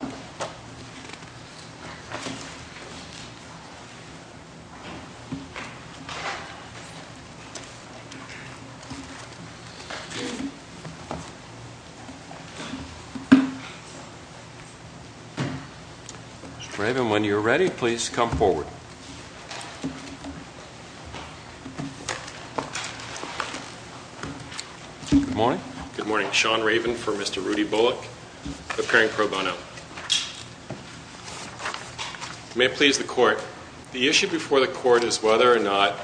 Mr. Raven, when you're ready, please come forward. Good morning. Good morning, Sean Raven for Mr. Rudy Bullock, appearing pro bono. May it please the court, the issue before the court is whether or not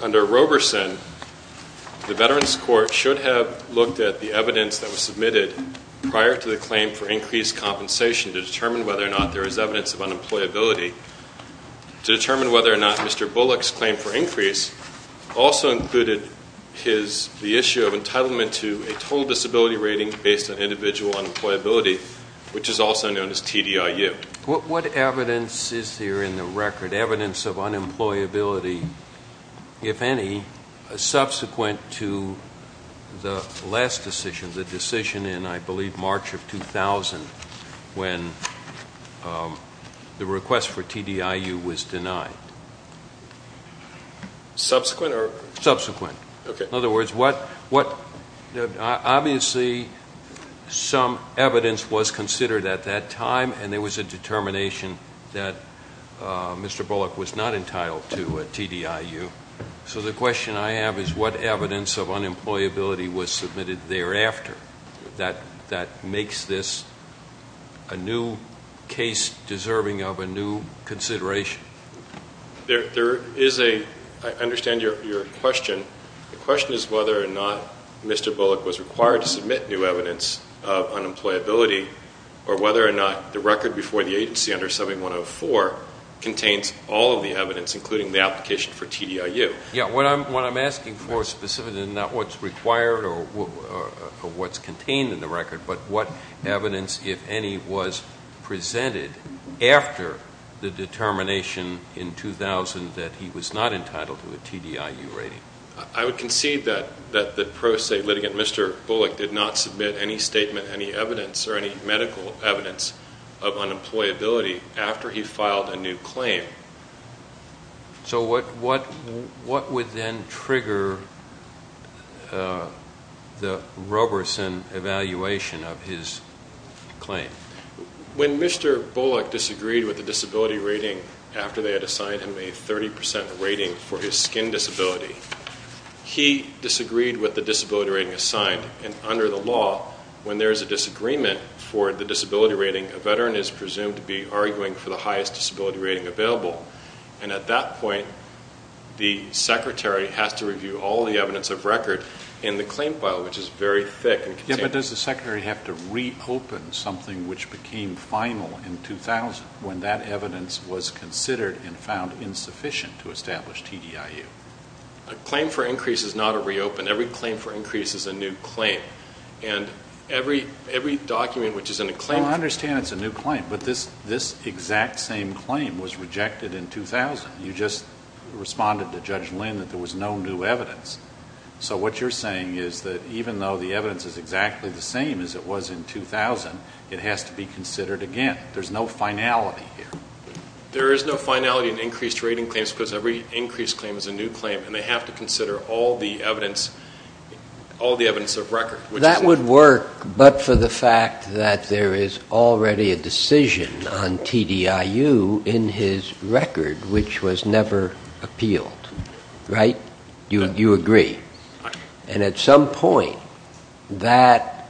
under Roberson, the Veterans Court should have looked at the evidence that was submitted prior to the claim for increased compensation to determine whether or not there is evidence of unemployability. To determine whether or not Mr. Bullock's claim for increase also included his, the issue of entitlement to a total disability rating based on individual unemployability, which is also known as TDIU. What evidence is there in the record, evidence of unemployability, if any, subsequent to the last decision, the decision in, I believe, March of 2000, when the request for TDIU was denied? Subsequent or? Subsequent. Okay. In other words, what, obviously some evidence was considered at that time and there was a determination that Mr. Bullock was not entitled to a TDIU. So the question I have is what evidence of unemployability was submitted thereafter that makes this a new case deserving of a new consideration? There is a, I understand your question. The question is whether or not Mr. Bullock was required to submit new evidence of unemployability or whether or not the record before the agency under 7104 contains all of the evidence, including the application for TDIU. What I'm asking for specifically is not what's required or what's contained in the record, but what evidence, if any, was presented after the determination in 2000 that he was not entitled to a TDIU rating. I would concede that the pro se litigant, Mr. Bullock, did not submit any statement, any evidence or any medical evidence of unemployability after he filed a new claim. So what would then trigger the Roberson evaluation of his claim? When Mr. Bullock disagreed with the disability rating after they had assigned him a 30% rating for his skin disability, he disagreed with the disability rating assigned. And under the law, when there is a disagreement for the disability rating, a veteran is presumed to be arguing for the highest disability rating available. And at that point, the secretary has to review all the evidence of record in the claim file, which is very thick and contained. But does the secretary have to reopen something which became final in 2000 when that evidence was considered and found insufficient to establish TDIU? A claim for increase is not a reopen. Every claim for increase is a new claim. And every document which is in a claim... I understand it's a new claim, but this exact same claim was rejected in 2000. You just responded to Judge Lynn that there was no new evidence. So what you're saying is that even though the evidence is exactly the same as it was in 2000, it has to be considered again. There's no finality here. There is no finality in increased rating claims because every increased claim is a new claim, and they have to consider all the evidence of record. That would work, but for the fact that there is already a decision on TDIU in his record, which was never appealed, right? You agree. And at some point, that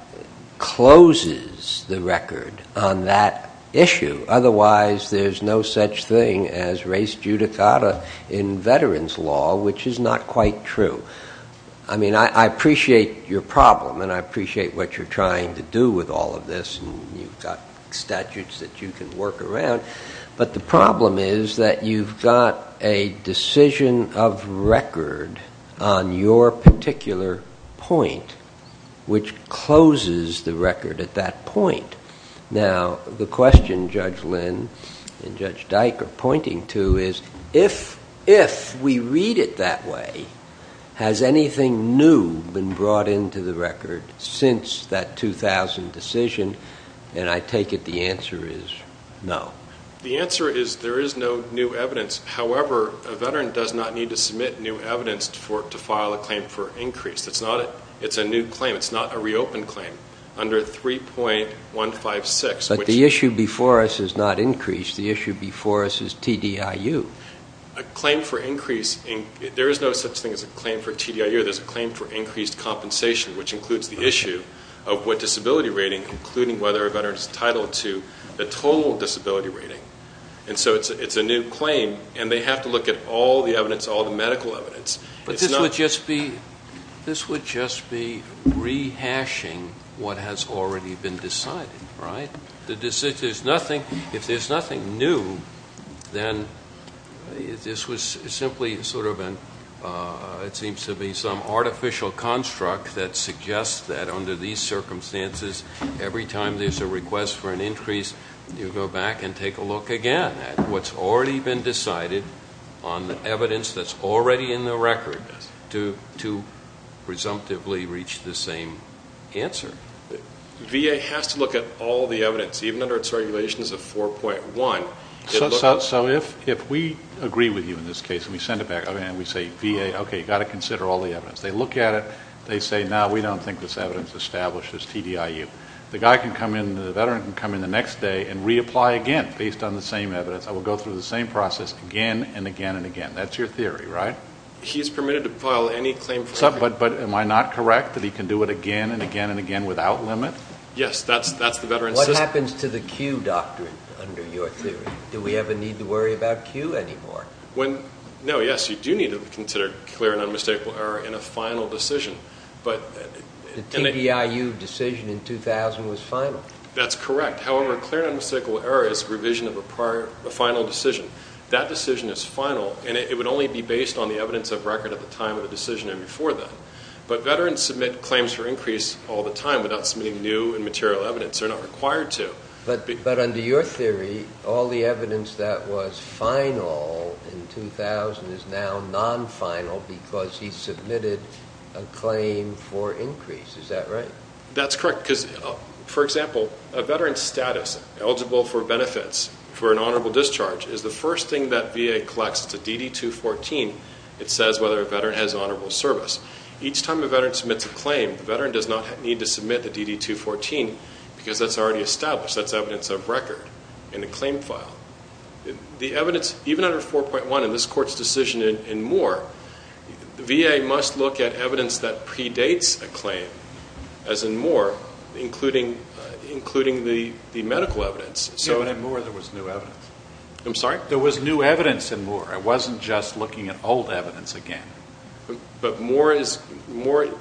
closes the record on that issue. Otherwise, there's no such thing as res judicata in veterans law, which is not quite true. I mean, I appreciate your problem, and I appreciate what you're trying to do with all of this, and you've got statutes that you can work around, but the problem is that you've got a decision of record on your particular point which closes the record at that point. Now, the question Judge Lynn and Judge Dyke are pointing to is, if we read it that way, has anything new been brought into the record since that 2000 decision? And I take it the answer is no. The answer is there is no new evidence. However, a veteran does not need to submit new evidence to file a claim for increase. It's a new claim. It's not a reopened claim. It's a claim under 3.156. But the issue before us is not increase. The issue before us is TDIU. A claim for increase, there is no such thing as a claim for TDIU. There's a claim for increased compensation, which includes the issue of what disability rating, including whether a veteran is entitled to the total disability rating. And so it's a new claim, and they have to look at all the evidence, all the medical evidence. But this would just be rehashing what has already been decided, right? If there's nothing new, then this was simply sort of a, it seems to be some artificial construct that suggests that under these circumstances, every time there's a request for an increase, you go back and take a look again at what's already been decided on the evidence that's already in the record to presumptively reach the same answer. VA has to look at all the evidence, even under its regulations of 4.1. So if we agree with you in this case and we send it back, and we say, VA, okay, you've got to consider all the evidence. They look at it. They say, no, we don't think this evidence establishes TDIU. The veteran can come in the next day and reapply again based on the same evidence. I will go through the same process again and again and again. That's your theory, right? He's permitted to file any claim for TDIU. But am I not correct that he can do it again and again and again without limit? Yes, that's the veteran's system. What happens to the Q doctrine under your theory? Do we ever need to worry about Q anymore? No, yes, you do need to consider clear and unmistakable error in a final decision. The TDIU decision in 2000 was final. That's correct. However, clear and unmistakable error is revision of a final decision. That decision is final, and it would only be based on the evidence of record at the time of the decision and before that. But veterans submit claims for increase all the time without submitting new and material evidence. They're not required to. But under your theory, all the evidence that was final in 2000 is now non-final because he submitted a claim for increase. Is that right? That's correct. Because, for example, a veteran's status eligible for benefits for an honorable discharge is the first thing that VA collects. It's a DD-214. It says whether a veteran has honorable service. Each time a veteran submits a claim, the veteran does not need to submit the DD-214 because that's already established. That's evidence of record in the claim file. The evidence, even under 4.1 in this court's decision in Moore, VA must look at evidence that predates a claim, as in Moore, including the medical evidence. Yeah, but in Moore there was new evidence. I'm sorry? There was new evidence in Moore. It wasn't just looking at old evidence again. But Moore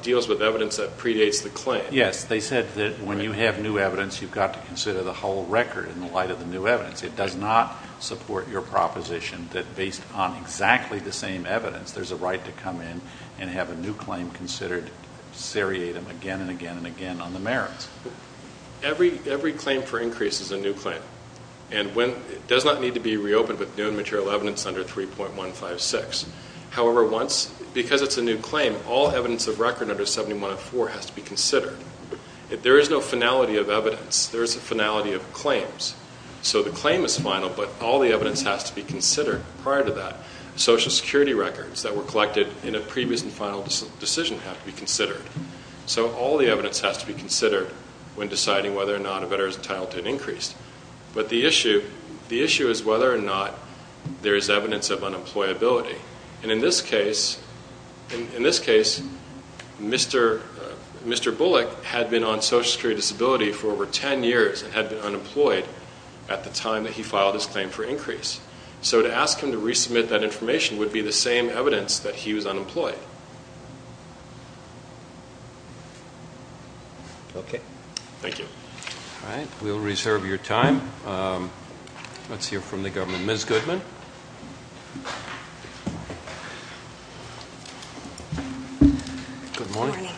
deals with evidence that predates the claim. Yes. They said that when you have new evidence, you've got to consider the whole record in the light of the new evidence. It does not support your proposition that based on exactly the same evidence, there's a right to come in and have a new claim considered seriatim again and again and again on the merits. Every claim for increase is a new claim. It does not need to be reopened with new and material evidence under 3.156. However, because it's a new claim, all evidence of record under 7104 has to be considered. There is no finality of evidence. There is a finality of claims. So the claim is final, but all the evidence has to be considered prior to that. Social security records that were collected in a previous and final decision have to be considered. So all the evidence has to be considered when deciding whether or not a veteran is entitled to an increase. But the issue is whether or not there is evidence of unemployability. And in this case, Mr. Bullock had been on social security disability for over 10 years and had been unemployed at the time that he filed his claim for increase. So to ask him to resubmit that information would be the same evidence that he was unemployed. Okay. Thank you. All right. We'll reserve your time. Let's hear from the government. Ms. Goodman. Good morning. Good morning.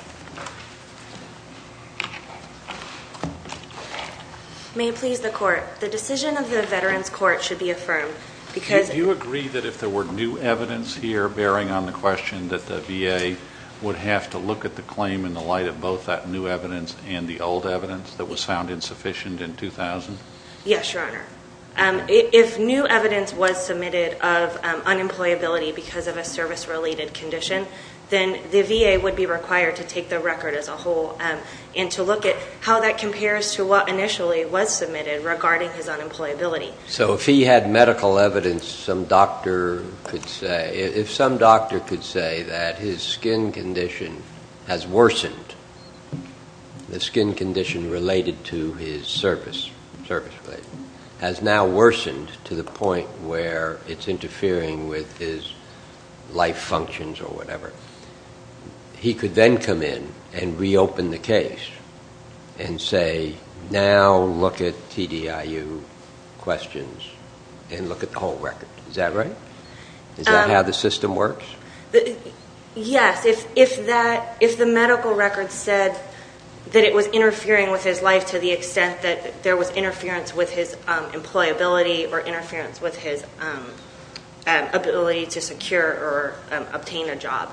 May it please the Court, the decision of the Veterans Court should be affirmed because Do you agree that if there were new evidence here bearing on the question that the VA would have to look at the claim in the light of both that new evidence and the old evidence that was found insufficient in 2000? Yes, Your Honor. If new evidence was submitted of unemployability because of a service-related condition, then the VA would be required to take the record as a whole and to look at how that compares to what initially was submitted regarding his unemployability. So if he had medical evidence some doctor could say, if some doctor could say that his skin condition has worsened, the skin condition related to his service has now worsened to the point where it's interfering with his life functions or whatever, he could then come in and reopen the case and say, now look at TDIU questions and look at the whole record. Is that right? Is that how the system works? Yes. If the medical record said that it was interfering with his life to the extent that there was interference with his employability or interference with his ability to secure or obtain a job,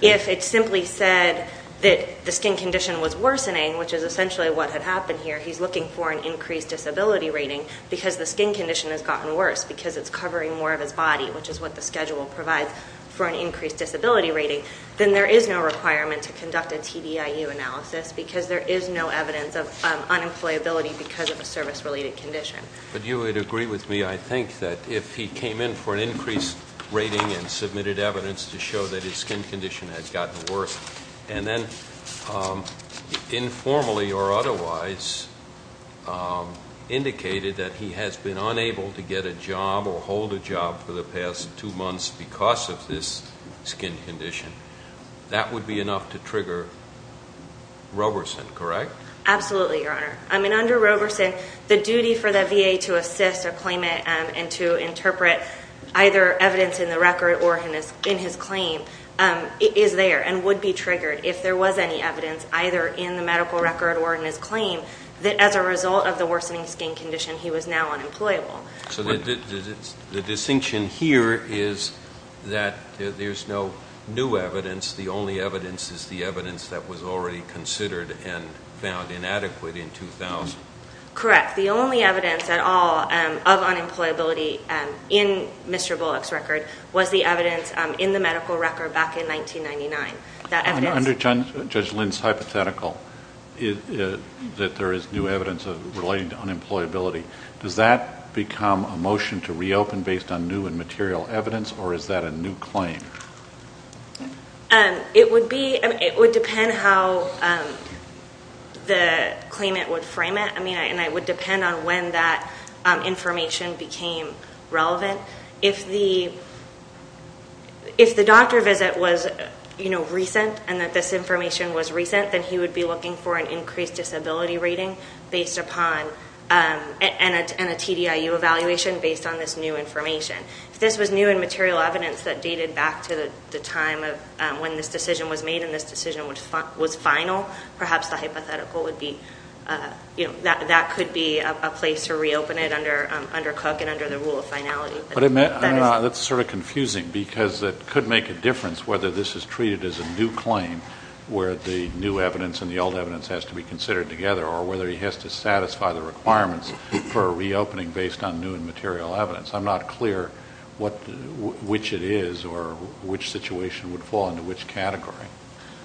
if it simply said that the skin condition was worsening, which is essentially what had happened here, he's looking for an increased disability rating because the skin condition has gotten worse because it's covering more of his body, which is what the schedule provides for an increased disability rating, then there is no requirement to conduct a TDIU analysis because there is no evidence of unemployability because of a service-related condition. But you would agree with me, I think, that if he came in for an increased rating and submitted evidence to show that his skin condition has gotten worse and then informally or otherwise indicated that he has been unable to get a job or hold a job for the past two months because of this skin condition, that would be enough to trigger Roberson, correct? Absolutely, Your Honor. Under Roberson, the duty for the VA to assist a claimant and to interpret either evidence in the record or in his claim is there and would be triggered if there was any evidence either in the medical record or in his claim that as a result of the worsening skin condition he was now unemployable. So the distinction here is that there's no new evidence, the only evidence is the evidence that was already considered and found inadequate in 2000. Correct. In fact, the only evidence at all of unemployability in Mr. Bullock's record was the evidence in the medical record back in 1999. Under Judge Lynn's hypothetical that there is new evidence relating to unemployability, does that become a motion to reopen based on new and material evidence or is that a new claim? It would depend how the claimant would frame it. And it would depend on when that information became relevant. If the doctor visit was recent and that this information was recent, then he would be looking for an increased disability rating and a TDIU evaluation based on this new information. If this was new and material evidence that dated back to the time when this decision was made and this decision was final, perhaps the hypothetical would be, that could be a place to reopen it under Cook and under the rule of finality. That's sort of confusing because it could make a difference whether this is treated as a new claim where the new evidence and the old evidence has to be considered together or whether he has to satisfy the requirements for reopening based on new and material evidence. I'm not clear which it is or which situation would fall into which category.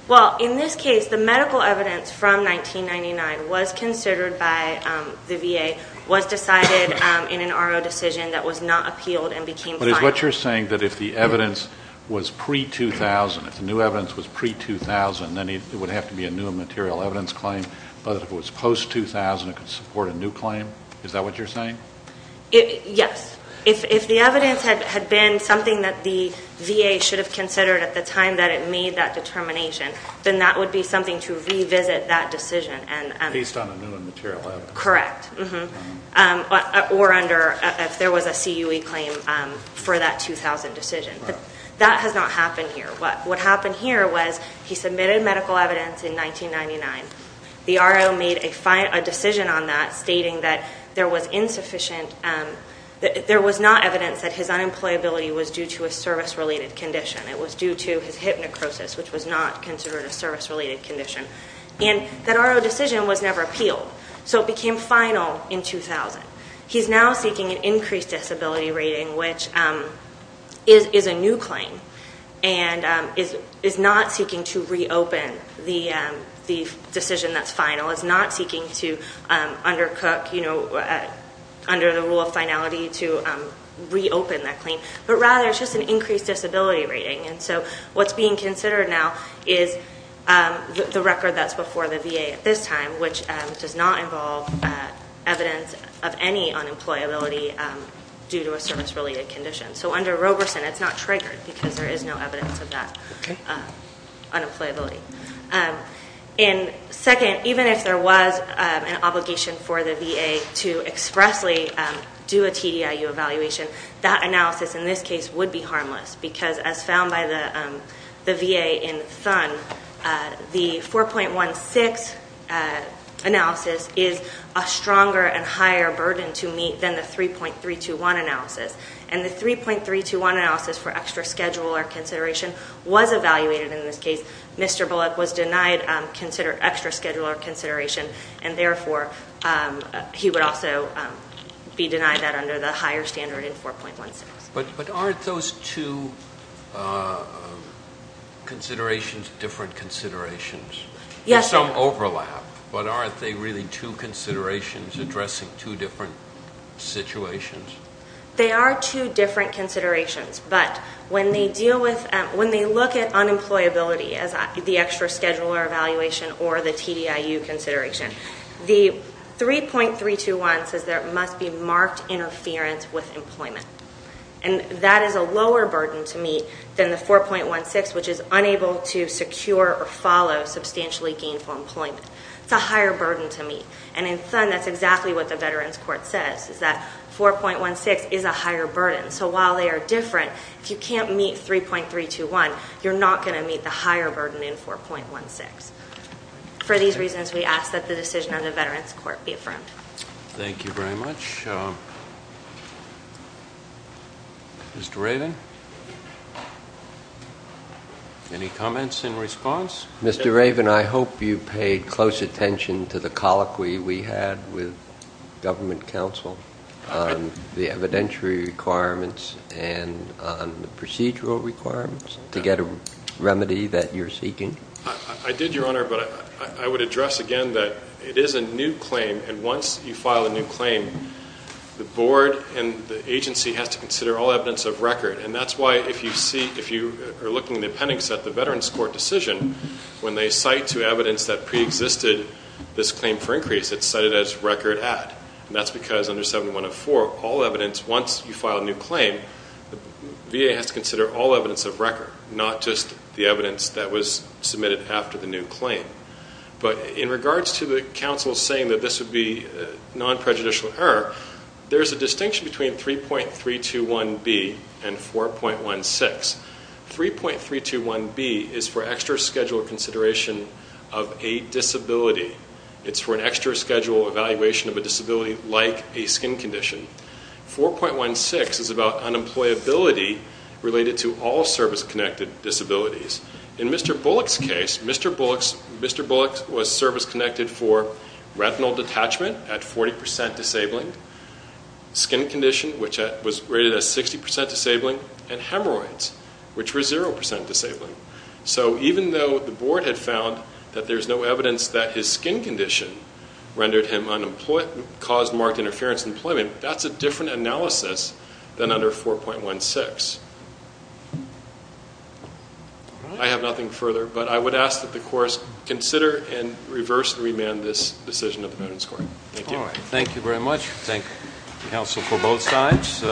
Well, in this case, the medical evidence from 1999 was considered by the VA, was decided in an RO decision that was not appealed and became final. But is what you're saying that if the evidence was pre-2000, if the new evidence was pre-2000, then it would have to be a new and material evidence claim, but if it was post-2000 it could support a new claim? Is that what you're saying? Yes. If the evidence had been something that the VA should have considered at the time that it made that determination, then that would be something to revisit that decision. Based on a new and material evidence? Correct. Or under if there was a CUE claim for that 2000 decision. That has not happened here. What happened here was he submitted medical evidence in 1999. The RO made a decision on that stating that there was not evidence that his unemployability was due to a service-related condition. It was due to his hypnecrosis, which was not considered a service-related condition. And that RO decision was never appealed. So it became final in 2000. He's now seeking an increased disability rating, which is a new claim and is not seeking to reopen the decision that's final. It's not seeking to undercook, under the rule of finality, to reopen that claim. But rather it's just an increased disability rating. And so what's being considered now is the record that's before the VA at this time, which does not involve evidence of any unemployability due to a service-related condition. So under Roberson, it's not triggered because there is no evidence of that unemployability. Second, even if there was an obligation for the VA to expressly do a TDIU evaluation, that analysis in this case would be harmless. Because as found by the VA in Thun, the 4.16 analysis is a stronger and higher burden to meet than the 3.321 analysis. And the 3.321 analysis for extra schedule or consideration was evaluated in this case. Mr. Bullock was denied extra schedule or consideration, and therefore he would also be denied that under the higher standard in 4.16. But aren't those two considerations different considerations? There's some overlap, but aren't they really two considerations addressing two different situations? They are two different considerations. But when they look at unemployability as the extra schedule or evaluation or the TDIU consideration, the 3.321 says there must be marked interference with employment. And that is a lower burden to meet than the 4.16, which is unable to secure or follow substantially gainful employment. It's a higher burden to meet. And in Thun, that's exactly what the Veterans Court says, is that 4.16 is a higher burden. So while they are different, if you can't meet 3.321, you're not going to meet the higher burden in 4.16. For these reasons, we ask that the decision of the Veterans Court be affirmed. Thank you very much. Mr. Raven, any comments in response? Mr. Raven, I hope you paid close attention to the colloquy we had with government counsel on the evidentiary requirements and on the procedural requirements to get a remedy that you're seeking. I did, Your Honor, but I would address again that it is a new claim. And once you file a new claim, the board and the agency has to consider all evidence of record. And that's why if you are looking at the appendix at the Veterans Court decision, when they cite to evidence that preexisted this claim for increase, it's cited as record add. And that's because under 7104, all evidence, once you file a new claim, VA has to consider all evidence of record, not just the evidence that was submitted after the new claim. But in regards to the counsel saying that this would be non-prejudicial error, there's a distinction between 3.321B and 4.16. 3.321B is for extra-schedule consideration of a disability. It's for an extra-schedule evaluation of a disability like a skin condition. 4.16 is about unemployability related to all service-connected disabilities. In Mr. Bullock's case, Mr. Bullock was service-connected for retinal detachment at 40% disabling, skin condition, which was rated as 60% disabling, and hemorrhoids, which were 0% disabling. So even though the board had found that there's no evidence that his skin condition rendered him unemployed, that caused marked interference in employment, that's a different analysis than under 4.16. I have nothing further, but I would ask that the courts consider and reverse and remand this decision of the Veterans Court. Thank you. Thank you very much. Thank you, counsel, for both sides.